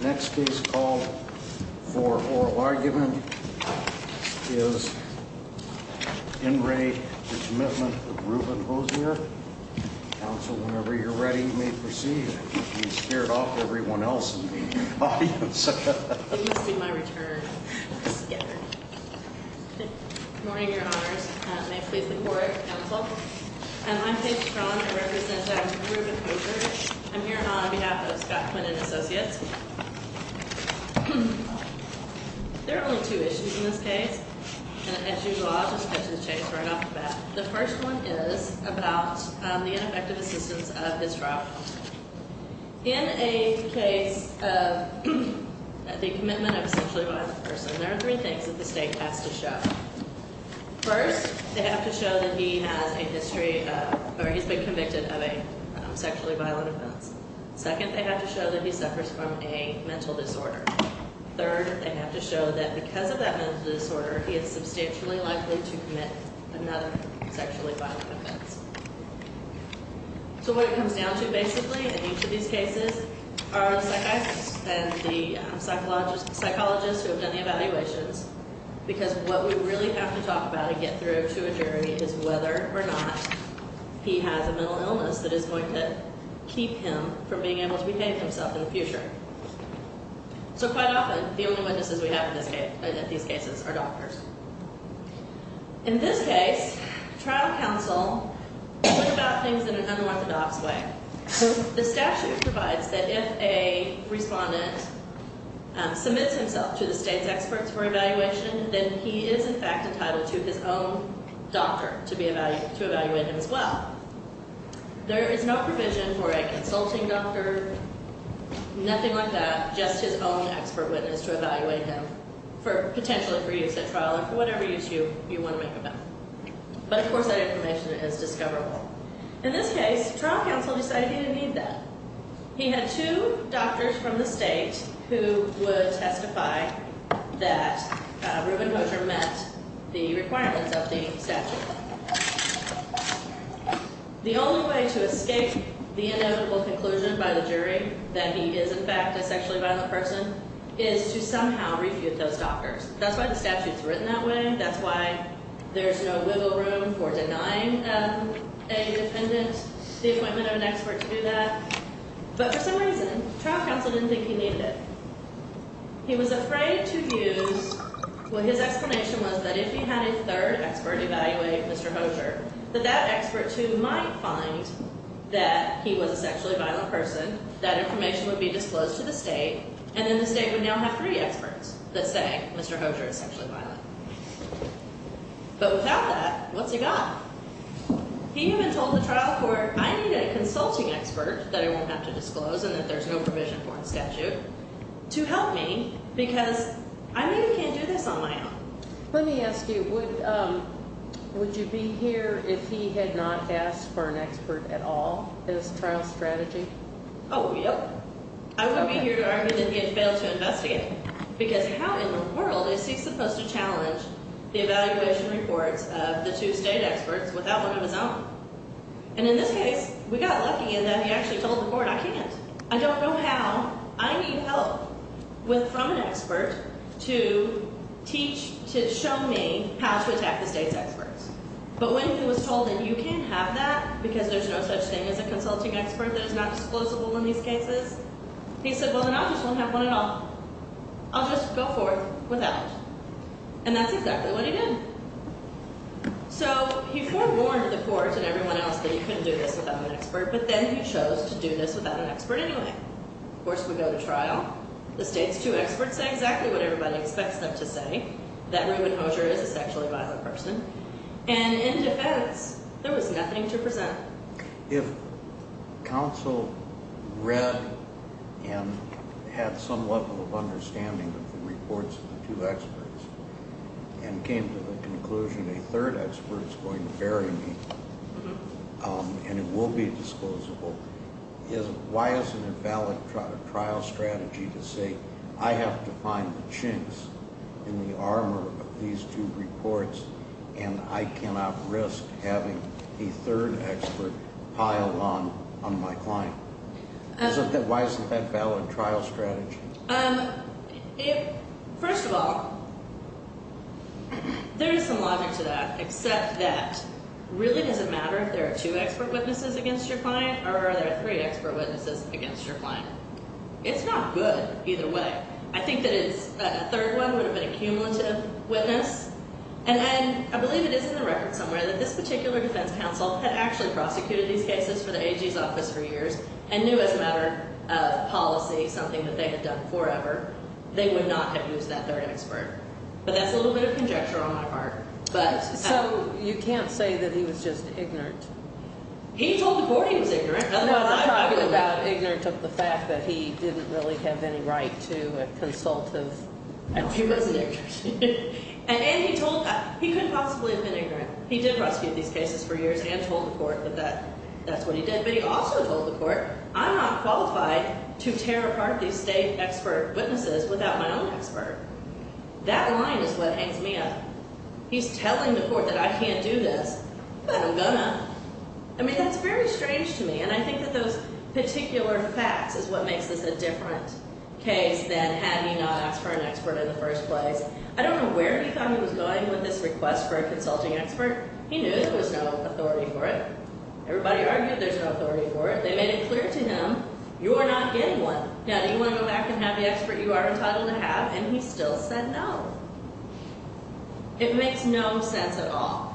Next is called for oral argument. Is In Ray Commitment Ruben Hosier Council, whenever you're ready, may proceed. You scared off everyone else in the audience. You'll see my return. Good morning, Your Honors. May it please the Court, Counsel. I'm Faith Strong. I represent Dr. Ruben Hosier. I'm here on behalf of Scott Quinn and Associates. There are only two issues in this case. And as usual, I'll just cut to the chase right off the bat. The first one is about the ineffective assistance of his trial. In a case of the commitment of a sexually violent person, there are three things that the State has to show. First, they have to show that he has a history, or he's been convicted of a sexually violent offense. Second, they have to show that he suffers from a mental disorder. Third, they have to show that because of that mental disorder, he is substantially likely to commit another sexually violent offense. So what it comes down to, basically, in each of these cases, are the psychiatrists and the psychologists who have done the evaluations. Because what we really have to talk about and get through to a jury is whether or not he has a mental illness that is going to keep him from being able to behave himself in the future. So quite often, the only witnesses we have in these cases are doctors. In this case, trial counsel talked about things in an unorthodox way. So the statute provides that if a respondent submits himself to the State's experts for evaluation, then he is in fact entitled to his own doctor to evaluate him as well. There is no provision for a consulting doctor, nothing like that, just his own expert witness to evaluate him, potentially for use at trial or for whatever use you want to make a bet. But of course, that information is discoverable. In this case, trial counsel decided he didn't need that. He had two doctors from the State who would testify that Reuben Hosier met the requirements of the statute. The only way to escape the inevitable conclusion by the jury that he is in fact a sexually violent person is to somehow refute those doctors. That's why the statute is written that way. That's why there's no wiggle room for denying a defendant the appointment of an expert to do that. But for some reason, trial counsel didn't think he needed it. He was afraid to use what his explanation was that if he had a third expert evaluate Mr. Hosier, that that expert too might find that he was a sexually violent person, that information would be disclosed to the State, and then the State would now have three experts that say Mr. Hosier is sexually violent. But without that, what's he got? He even told the trial court, I need a consulting expert that I won't have to disclose and that there's no provision for in the statute to help me because I maybe can't do this on my own. Let me ask you, would you be here if he had not asked for an expert at all as trial strategy? Oh, yep. I wouldn't be here to argue that he had failed to investigate because how in the world is he supposed to challenge the evaluation reports of the two State experts without one of his own? And in this case, we got lucky in that he actually told the court, I can't. I don't know how. I need help from an expert to teach, to show me how to attack the State's experts. But when he was told that you can't have that because there's no such thing as a consulting expert that is not disclosable in these cases, he said, well, then I just won't have one at all. I'll just go forth without. And that's exactly what he did. So he forewarned the court and everyone else that he couldn't do this without an expert, but then he chose to do this without an expert anyway. Of course, we go to trial. The State's two experts say exactly what everybody expects them to say, that Reuben Hosier is a sexually violent person. And in defense, there was nothing to present. If counsel read and had some level of understanding of the reports of the two experts and came to the conclusion a third expert is going to bury me and it will be disclosable, why is it a valid trial strategy to say I have to find the chinks in the armor of these two reports and I cannot risk having a third expert piled on my client? Why isn't that a valid trial strategy? First of all, there is some logic to that except that it really doesn't matter if there are two expert witnesses against your client or there are three expert witnesses against your client. It's not good either way. I think that a third one would have been a cumulative witness. And I believe it is in the record somewhere that this particular defense counsel had actually prosecuted these cases for the AG's office for years and knew as a matter of policy something that they had done forever. They would not have used that third expert. But that's a little bit of conjecture on my part. So you can't say that he was just ignorant? He told the board he was ignorant. I'm not talking about ignorance of the fact that he didn't really have any right to a consultative counsel. He wasn't ignorant. And he told – he couldn't possibly have been ignorant. He did prosecute these cases for years and told the court that that's what he did. But he also told the court I'm not qualified to tear apart these state expert witnesses without my own expert. That line is what hangs me up. He's telling the court that I can't do this, but I'm going to. I mean, that's very strange to me. And I think that those particular facts is what makes this a different case than had he not asked for an expert in the first place. I don't know where he thought he was going with this request for a consulting expert. He knew there was no authority for it. Everybody argued there's no authority for it. They made it clear to him you are not getting one. Now, do you want to go back and have the expert you are entitled to have? And he still said no. It makes no sense at all.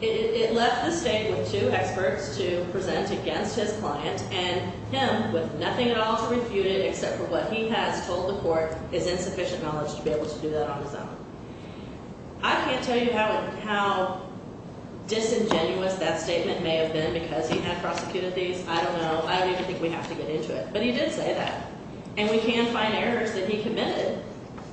It left the state with two experts to present against his client and him with nothing at all to refute it except for what he has told the court is insufficient knowledge to be able to do that on his own. I can't tell you how disingenuous that statement may have been because he had prosecuted these. I don't know. I don't even think we have to get into it. But he did say that. And we can find errors that he committed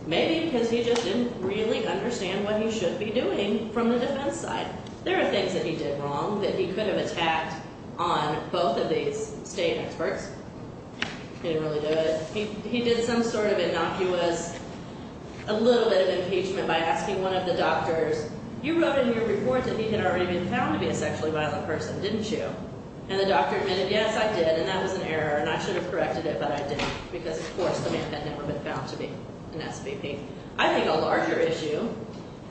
maybe because he just didn't really understand what he should be doing from the defense side. There are things that he did wrong that he could have attacked on both of these state experts. He didn't really do it. He did some sort of innocuous, a little bit of impeachment by asking one of the doctors, you wrote in your report that he had already been found to be a sexually violent person, didn't you? And the doctor admitted, yes, I did, and that was an error, and I should have corrected it, but I didn't because, of course, the man had never been found to be an SVP. I think a larger issue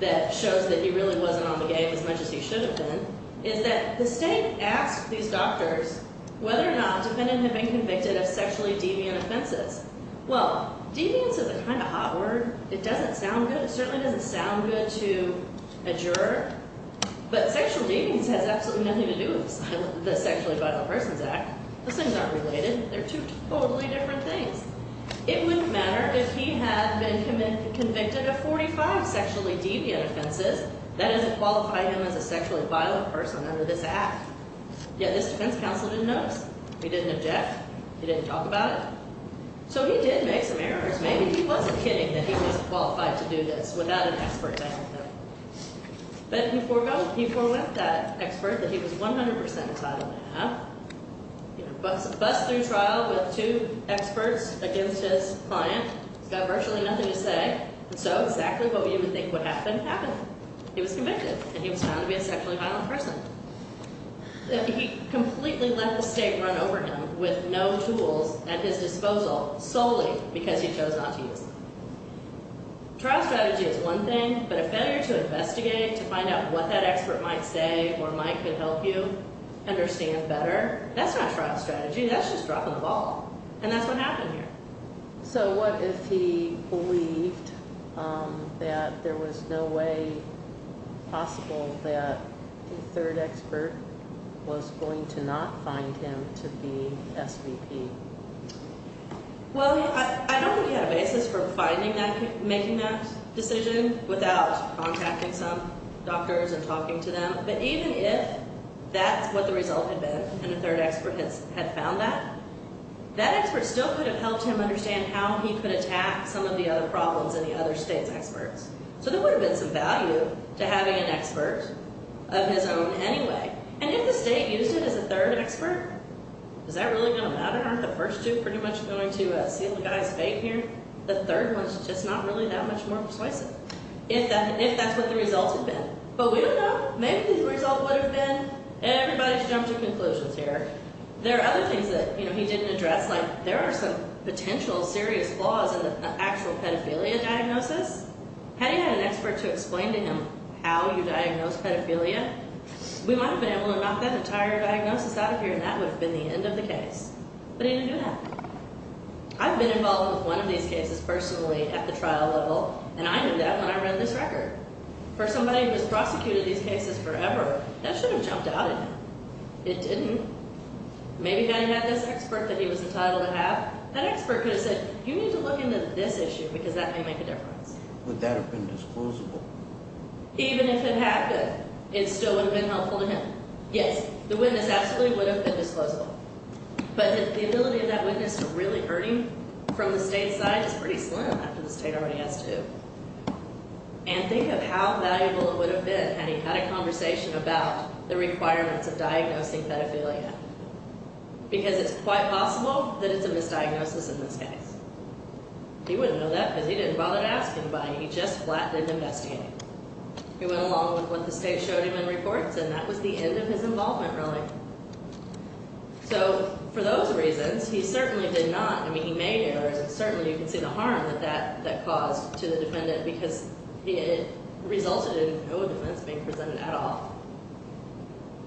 that shows that he really wasn't on the game as much as he should have been is that the state asked these doctors whether or not the defendant had been convicted of sexually deviant offenses. Well, deviance is a kind of hot word. It doesn't sound good. It certainly doesn't sound good to a juror. But sexual deviance has absolutely nothing to do with the Sexually Violent Persons Act. Those things aren't related. They're two totally different things. It wouldn't matter if he had been convicted of 45 sexually deviant offenses. That doesn't qualify him as a sexually violent person under this act. Yet this defense counsel didn't notice. He didn't object. He didn't talk about it. So he did make some errors. Maybe he wasn't kidding that he wasn't qualified to do this without an expert backing him. But he forewent that expert that he was 100 percent excited to have. Bust through trial with two experts against his client. He's got virtually nothing to say. And so exactly what we would think would happen, happened. He was convicted. And he was found to be a sexually violent person. He completely let the state run over him with no tools at his disposal solely because he chose not to use them. Trial strategy is one thing. But a failure to investigate, to find out what that expert might say or might could help you understand better, that's not trial strategy. That's just dropping the ball. And that's what happened here. So what if he believed that there was no way possible that the third expert was going to not find him to be SVP? Well, I don't think he had a basis for finding that, making that decision without contacting some doctors and talking to them. But even if that's what the result had been and the third expert had found that, that expert still could have helped him understand how he could attack some of the other problems and the other state's experts. So there would have been some value to having an expert of his own anyway. And if the state used it as a third expert, is that really going to matter? Aren't the first two pretty much going to seal the guy's fate here? The third one's just not really that much more persuasive, if that's what the result had been. But we don't know. Maybe the result would have been everybody's jumped to conclusions here. There are other things that he didn't address, like there are some potential serious flaws in an actual pedophilia diagnosis. Had he had an expert to explain to him how you diagnose pedophilia? We might have been able to knock that entire diagnosis out of here, and that would have been the end of the case. But he didn't do that. I've been involved with one of these cases personally at the trial level, and I knew that when I read this record. For somebody who has prosecuted these cases forever, that should have jumped out at him. It didn't. Maybe had he had this expert that he was entitled to have, that expert could have said, you need to look into this issue because that may make a difference. Would that have been disclosable? Even if it had been, it still would have been helpful to him. Yes, the witness absolutely would have been disclosable. But the ability of that witness to really hurt him from the state's side is pretty slim after the state already has to. And think of how valuable it would have been had he had a conversation about the requirements of diagnosing pedophilia. Because it's quite possible that it's a misdiagnosis in this case. He wouldn't know that because he didn't bother to ask anybody. He just flattened and investigated. He went along with what the state showed him in reports, and that was the end of his involvement, really. So, for those reasons, he certainly did not, I mean, he made errors, and certainly you can see the harm that that caused to the defendant because it resulted in no evidence being presented at all.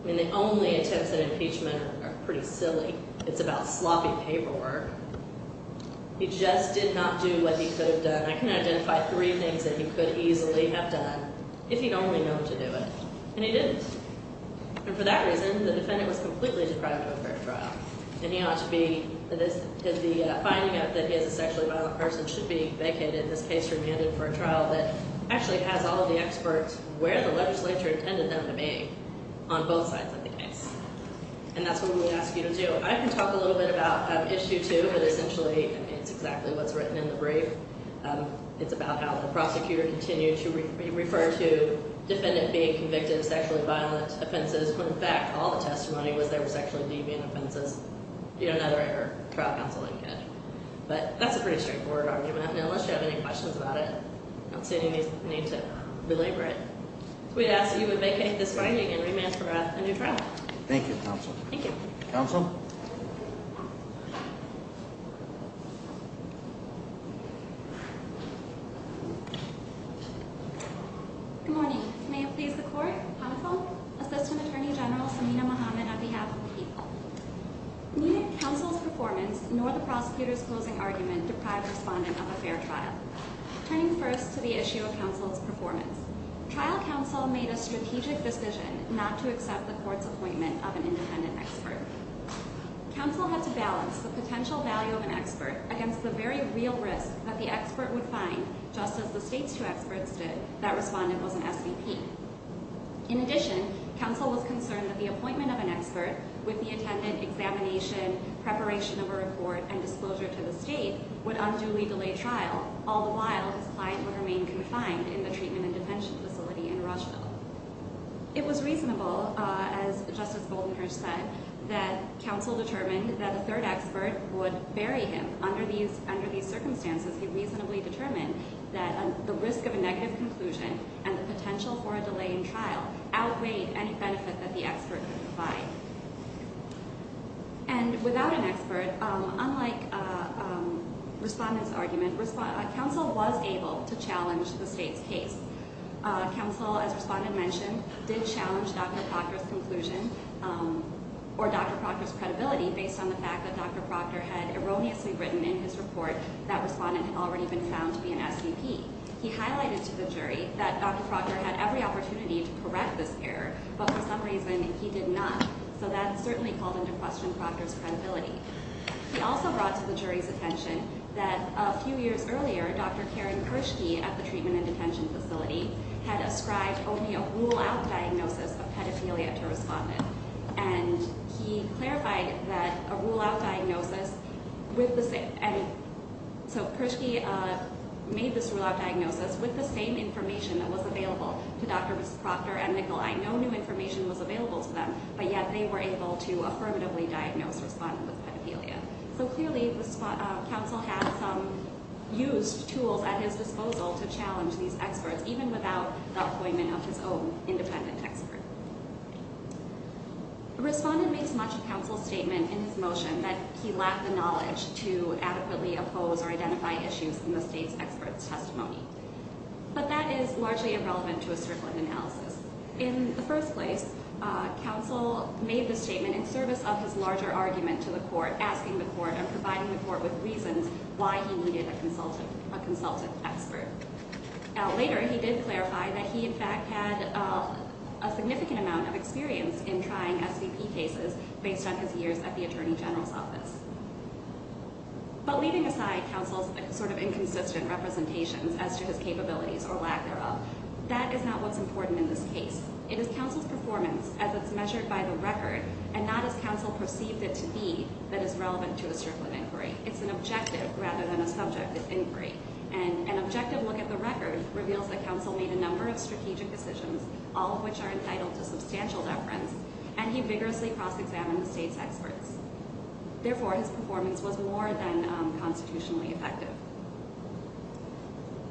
I mean, the only attempts at impeachment are pretty silly. It's about sloppy paperwork. He just did not do what he could have done. I can identify three things that he could easily have done if he'd only known to do it. And he didn't. And for that reason, the defendant was completely deprived of a fair trial. And he ought to be. The finding that he is a sexually violent person should be vacated, in this case remanded, for a trial that actually has all of the experts where the legislature intended them to be on both sides of the case. And that's what we ask you to do. I can talk a little bit about Issue 2, but essentially it's exactly what's written in the brief. It's about how the prosecutor continued to refer to the defendant being convicted of sexually violent offenses when in fact all the testimony was that they were sexually deviant offenses. You don't have a fair trial counsel like that. But that's a pretty straightforward argument, and unless you have any questions about it, I don't see any need to belabor it. We ask that you would vacate this finding and remand for a new trial. Thank you, Counsel. Thank you. Counsel? Good morning. May it please the Court? Counsel? Assistant Attorney General Samina Mohammed on behalf of the people. Neither counsel's performance nor the prosecutor's closing argument deprived the respondent of a fair trial. Turning first to the issue of counsel's performance. Trial counsel made a strategic decision not to accept the Court's appointment of an independent expert. Counsel had to balance the potential value of an expert against the very real risk that the expert would find, just as the State's two experts did, that respondent was an SVP. In addition, counsel was concerned that the appointment of an expert, with the attendant examination, preparation of a report, and disclosure to the State, would unduly delay trial, all the while his client would remain confined in the treatment and detention facility in Rocheville. It was reasonable, as Justice Goldenherz said, that counsel determined that a third expert would bury him. Under these circumstances, he reasonably determined that the risk of a negative conclusion and the potential for a delay in trial outweighed any benefit that the expert could provide. And without an expert, unlike respondent's argument, counsel was able to challenge the State's case. Counsel, as respondent mentioned, did challenge Dr. Proctor's conclusion or Dr. Proctor's credibility based on the fact that Dr. Proctor had erroneously written in his report that respondent had already been found to be an SVP. He highlighted to the jury that Dr. Proctor had every opportunity to correct this error, but for some reason he did not, so that certainly called into question Proctor's credibility. He also brought to the jury's attention that a few years earlier, Dr. Karen Kirschke at the treatment and detention facility had ascribed only a rule-out diagnosis of pedophilia to respondent. And he clarified that a rule-out diagnosis with the same— and so Kirschke made this rule-out diagnosis with the same information that was available to Dr. Proctor and Nicolai, no new information was available to them, but yet they were able to affirmatively diagnose respondent with pedophilia. So clearly, counsel had some used tools at his disposal to challenge these experts, even without the appointment of his own independent expert. Respondent makes much of counsel's statement in his motion that he lacked the knowledge to adequately oppose or identify issues in the State's expert's testimony, but that is largely irrelevant to a Strickland analysis. In the first place, counsel made this statement in service of his larger argument to the court, asking the court and providing the court with reasons why he needed a consultant expert. Later, he did clarify that he in fact had a significant amount of experience in trying SVP cases based on his years at the Attorney General's office. But leaving aside counsel's sort of inconsistent representations as to his capabilities or lack thereof, that is not what's important in this case. It is counsel's performance as it's measured by the record and not as counsel perceived it to be that is relevant to a Strickland inquiry. It's an objective rather than a subjective inquiry. And an objective look at the record reveals that counsel made a number of strategic decisions, all of which are entitled to substantial deference, and he vigorously cross-examined the State's experts. Therefore, his performance was more than constitutionally effective.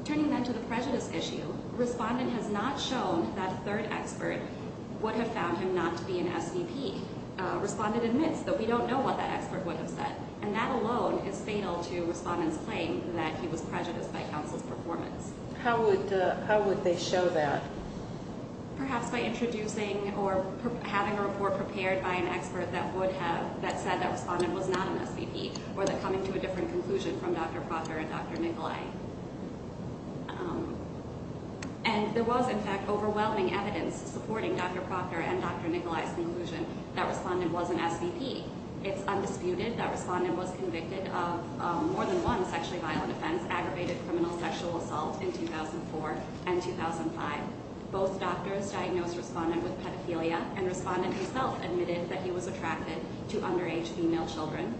Turning then to the prejudice issue, respondent has not shown that a third expert would have found him not to be an SVP. Respondent admits that we don't know what that expert would have said, and that alone is fatal to respondent's claim that he was prejudiced by counsel's performance. How would they show that? Perhaps by introducing or having a report prepared by an expert that said that respondent was not an SVP or that coming to a different conclusion from Dr. Proctor and Dr. Nicolai. And there was, in fact, overwhelming evidence supporting Dr. Proctor and Dr. Nicolai's conclusion that respondent was an SVP. It's undisputed that respondent was convicted of more than one sexually violent offense, aggravated criminal sexual assault in 2004 and 2005. Both doctors diagnosed respondent with pedophilia, and respondent himself admitted that he was attracted to underage female children.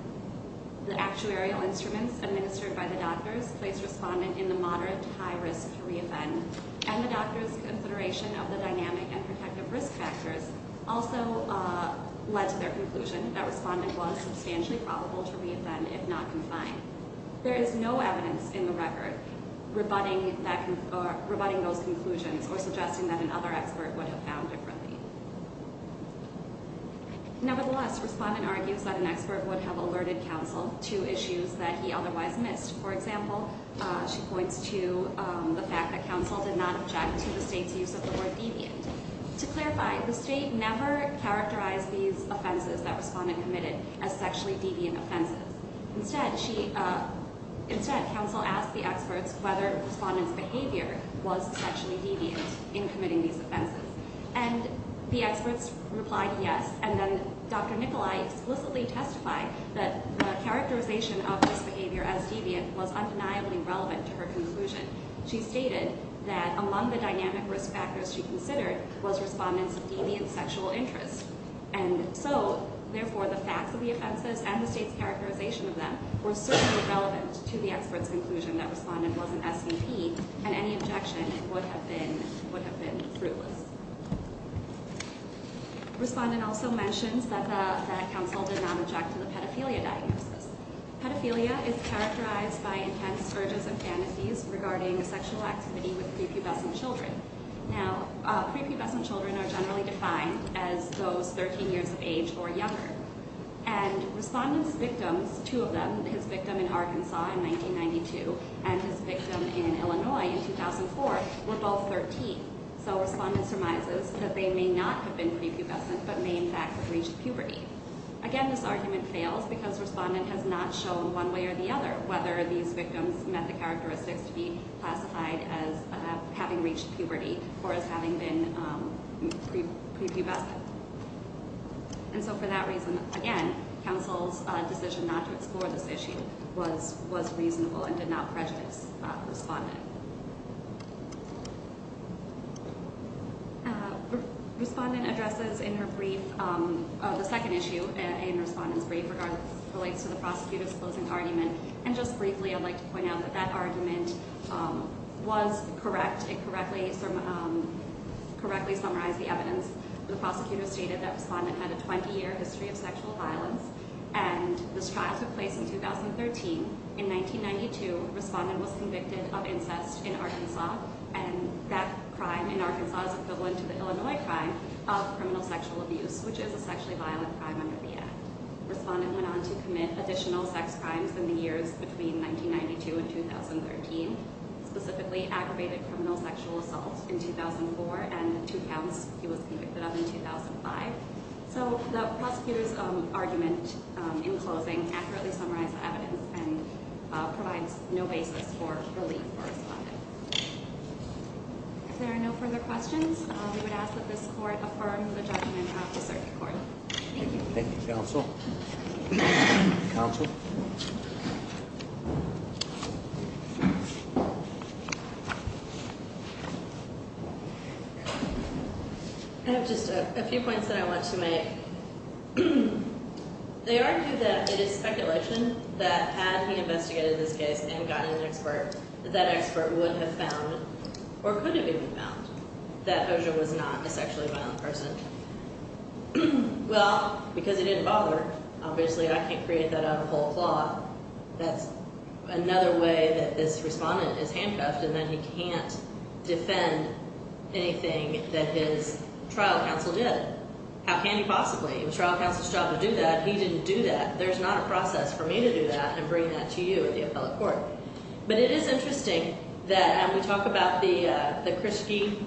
The actuarial instruments administered by the doctors placed respondent in the moderate to high risk to re-offend, and the doctors' consideration of the dynamic and protective risk factors also led to their conclusion that respondent was substantially probable to re-offend if not confined. There is no evidence in the record rebutting those conclusions or suggesting that another expert would have found differently. Nevertheless, respondent argues that an expert would have alerted counsel to issues that he otherwise missed. For example, she points to the fact that counsel did not object to the state's use of the word deviant. To clarify, the state never characterized these offenses that respondent committed as sexually deviant offenses. Instead, counsel asked the experts whether respondent's behavior was sexually deviant in committing these offenses. And the experts replied yes, and then Dr. Nicolai explicitly testified that the characterization of this behavior as deviant was undeniably relevant to her conclusion. She stated that among the dynamic risk factors she considered was respondent's deviant sexual interest. And so, therefore, the facts of the offenses and the state's characterization of them were certainly relevant to the expert's conclusion that respondent wasn't SVP, and any objection would have been fruitless. Respondent also mentions that counsel did not object to the pedophilia diagnosis. Pedophilia is characterized by intense urges and fantasies regarding sexual activity with prepubescent children. Now, prepubescent children are generally defined as those 13 years of age or younger. And respondent's victims, two of them, his victim in Arkansas in 1992 and his victim in Illinois in 2004, were both 13. So respondent surmises that they may not have been prepubescent but may in fact have reached puberty. Again, this argument fails because respondent has not shown one way or the other whether these victims met the characteristics to be classified as having reached puberty or as having been prepubescent. And so for that reason, again, counsel's decision not to explore this issue was reasonable and did not prejudice respondent. Respondent addresses in her brief, the second issue in respondent's brief, which relates to the prosecutor's closing argument. And just briefly, I'd like to point out that that argument was correct. It correctly summarized the evidence. The prosecutor stated that respondent had a 20-year history of sexual violence, and this trial took place in 2013. In 1992, respondent was convicted of incest in Arkansas, and that crime in Arkansas is equivalent to the Illinois crime of criminal sexual abuse, which is a sexually violent crime under the Act. Respondent went on to commit additional sex crimes in the years between 1992 and 2013, specifically aggravated criminal sexual assault in 2004 and two counts. He was convicted of in 2005. So the prosecutor's argument in closing accurately summarized the evidence and provides no basis for relief for respondent. If there are no further questions, we would ask that this court affirm the judgment of the circuit court. Thank you. Thank you, counsel. Counsel? I have just a few points that I want to make. They argue that it is speculation that had he investigated this case and gotten an expert, that expert would have found, or could have even found, that Oja was not a sexually violent person. Well, because he didn't bother. Obviously, I can't create that on a whole claw. That's another way that this respondent is handcuffed, and then he can't defend anything that his trial counsel did. How can he possibly? It was trial counsel's job to do that. He didn't do that. There's not a process for me to do that and bring that to you, the appellate court. But it is interesting that we talk about the Krischke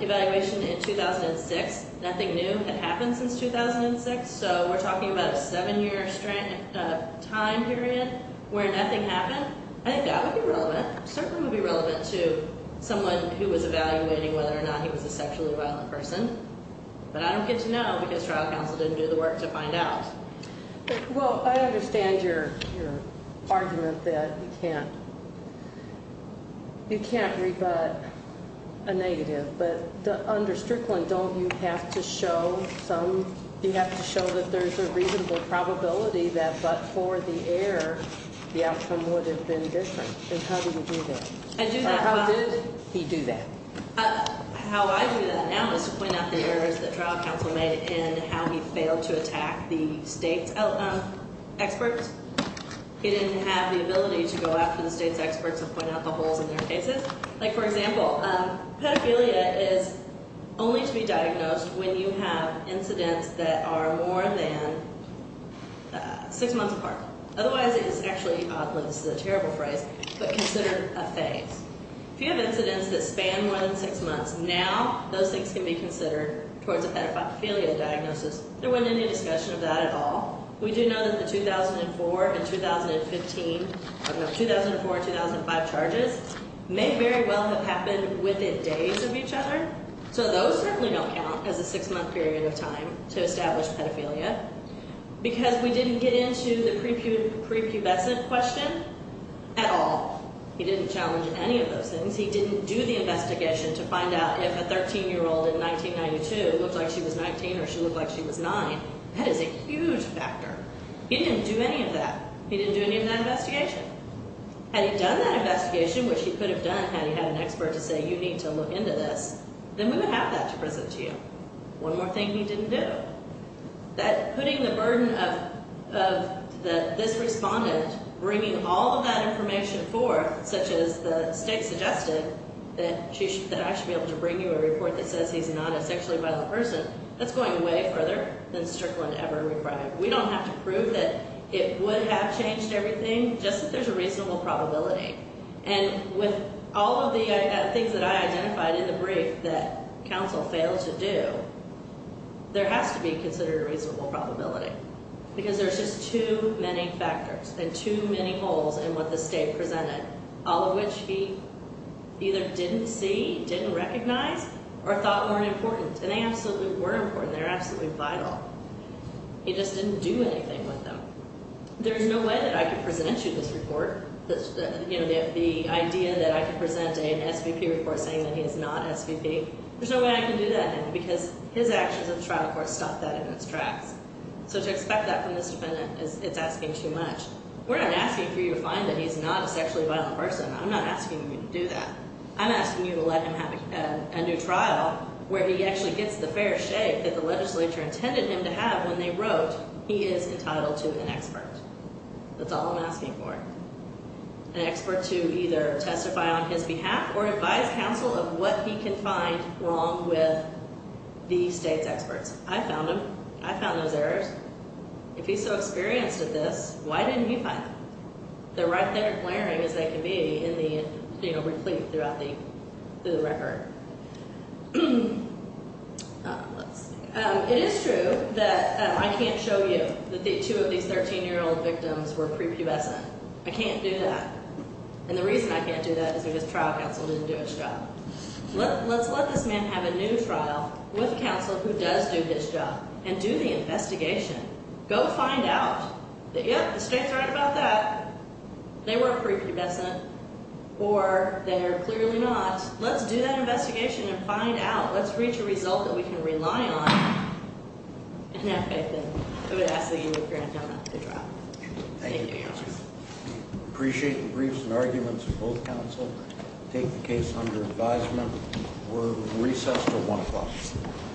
evaluation in 2006. Nothing new had happened since 2006, so we're talking about a seven-year time period where nothing happened. I think that would be relevant. It certainly would be relevant to someone who was evaluating whether or not he was a sexually violent person. But I don't get to know because trial counsel didn't do the work to find out. Well, I understand your argument that you can't rebut a negative. But under Strickland, don't you have to show that there's a reasonable probability that but for the error, the outcome would have been different? And how do you do that? How did he do that? How I do that now is to point out the errors that trial counsel made in how he failed to attack the state's experts. He didn't have the ability to go after the state's experts and point out the holes in their cases. Like, for example, pedophilia is only to be diagnosed when you have incidents that are more than six months apart. Otherwise, it is actually, oddly, this is a terrible phrase, but consider a phase. If you have incidents that span more than six months, now those things can be considered towards a pedophilia diagnosis. There wasn't any discussion of that at all. We do know that the 2004 and 2015, 2004 and 2005 charges, may very well have happened within days of each other. So those certainly don't count as a six-month period of time to establish pedophilia because we didn't get into the prepubescent question at all. He didn't challenge any of those things. He didn't do the investigation to find out if a 13-year-old in 1992 looked like she was 19 or she looked like she was nine. That is a huge factor. He didn't do any of that. He didn't do any of that investigation. Had he done that investigation, which he could have done had he had an expert to say, you need to look into this, then we would have that to present to you. One more thing he didn't do. That putting the burden of this respondent bringing all of that information forth, such as the state suggested that I should be able to bring you a report that says he's not a sexually violent person, that's going way further than Strickland ever required. We don't have to prove that it would have changed everything, just that there's a reasonable probability. And with all of the things that I identified in the brief that counsel failed to do, there has to be considered a reasonable probability because there's just too many factors and too many holes in what the state presented, all of which he either didn't see, didn't recognize, or thought weren't important. And they absolutely were important. They're absolutely vital. He just didn't do anything with them. There's no way that I could present you this report. The idea that I could present an SVP report saying that he is not SVP, there's no way I can do that, because his actions in the trial court stopped that in its tracks. So to expect that from this defendant, it's asking too much. We're not asking for you to find that he's not a sexually violent person. I'm not asking you to do that. I'm asking you to let him have a new trial where he actually gets the fair shake that the legislature intended him to have when they wrote, he is entitled to an expert. That's all I'm asking for. An expert to either testify on his behalf or advise counsel of what he can find wrong with the state's experts. I found him. I found those errors. If he's so experienced at this, why didn't you find them? They're right there glaring as they can be in the, you know, reclaimed throughout the record. Let's see. It is true that I can't show you that the two of these 13-year-old victims were prepubescent. I can't do that. And the reason I can't do that is because trial counsel didn't do his job. Let's let this man have a new trial with counsel who does do his job and do the investigation. Go find out. Yep, the state's right about that. They were prepubescent or they're clearly not. Let's do that investigation and find out. Let's reach a result that we can rely on and have faith in. I would ask that you grant him a new trial. Thank you, counsel. Appreciate the briefs and arguments of both counsel. Take the case under advisement. We're recessed to 1 o'clock.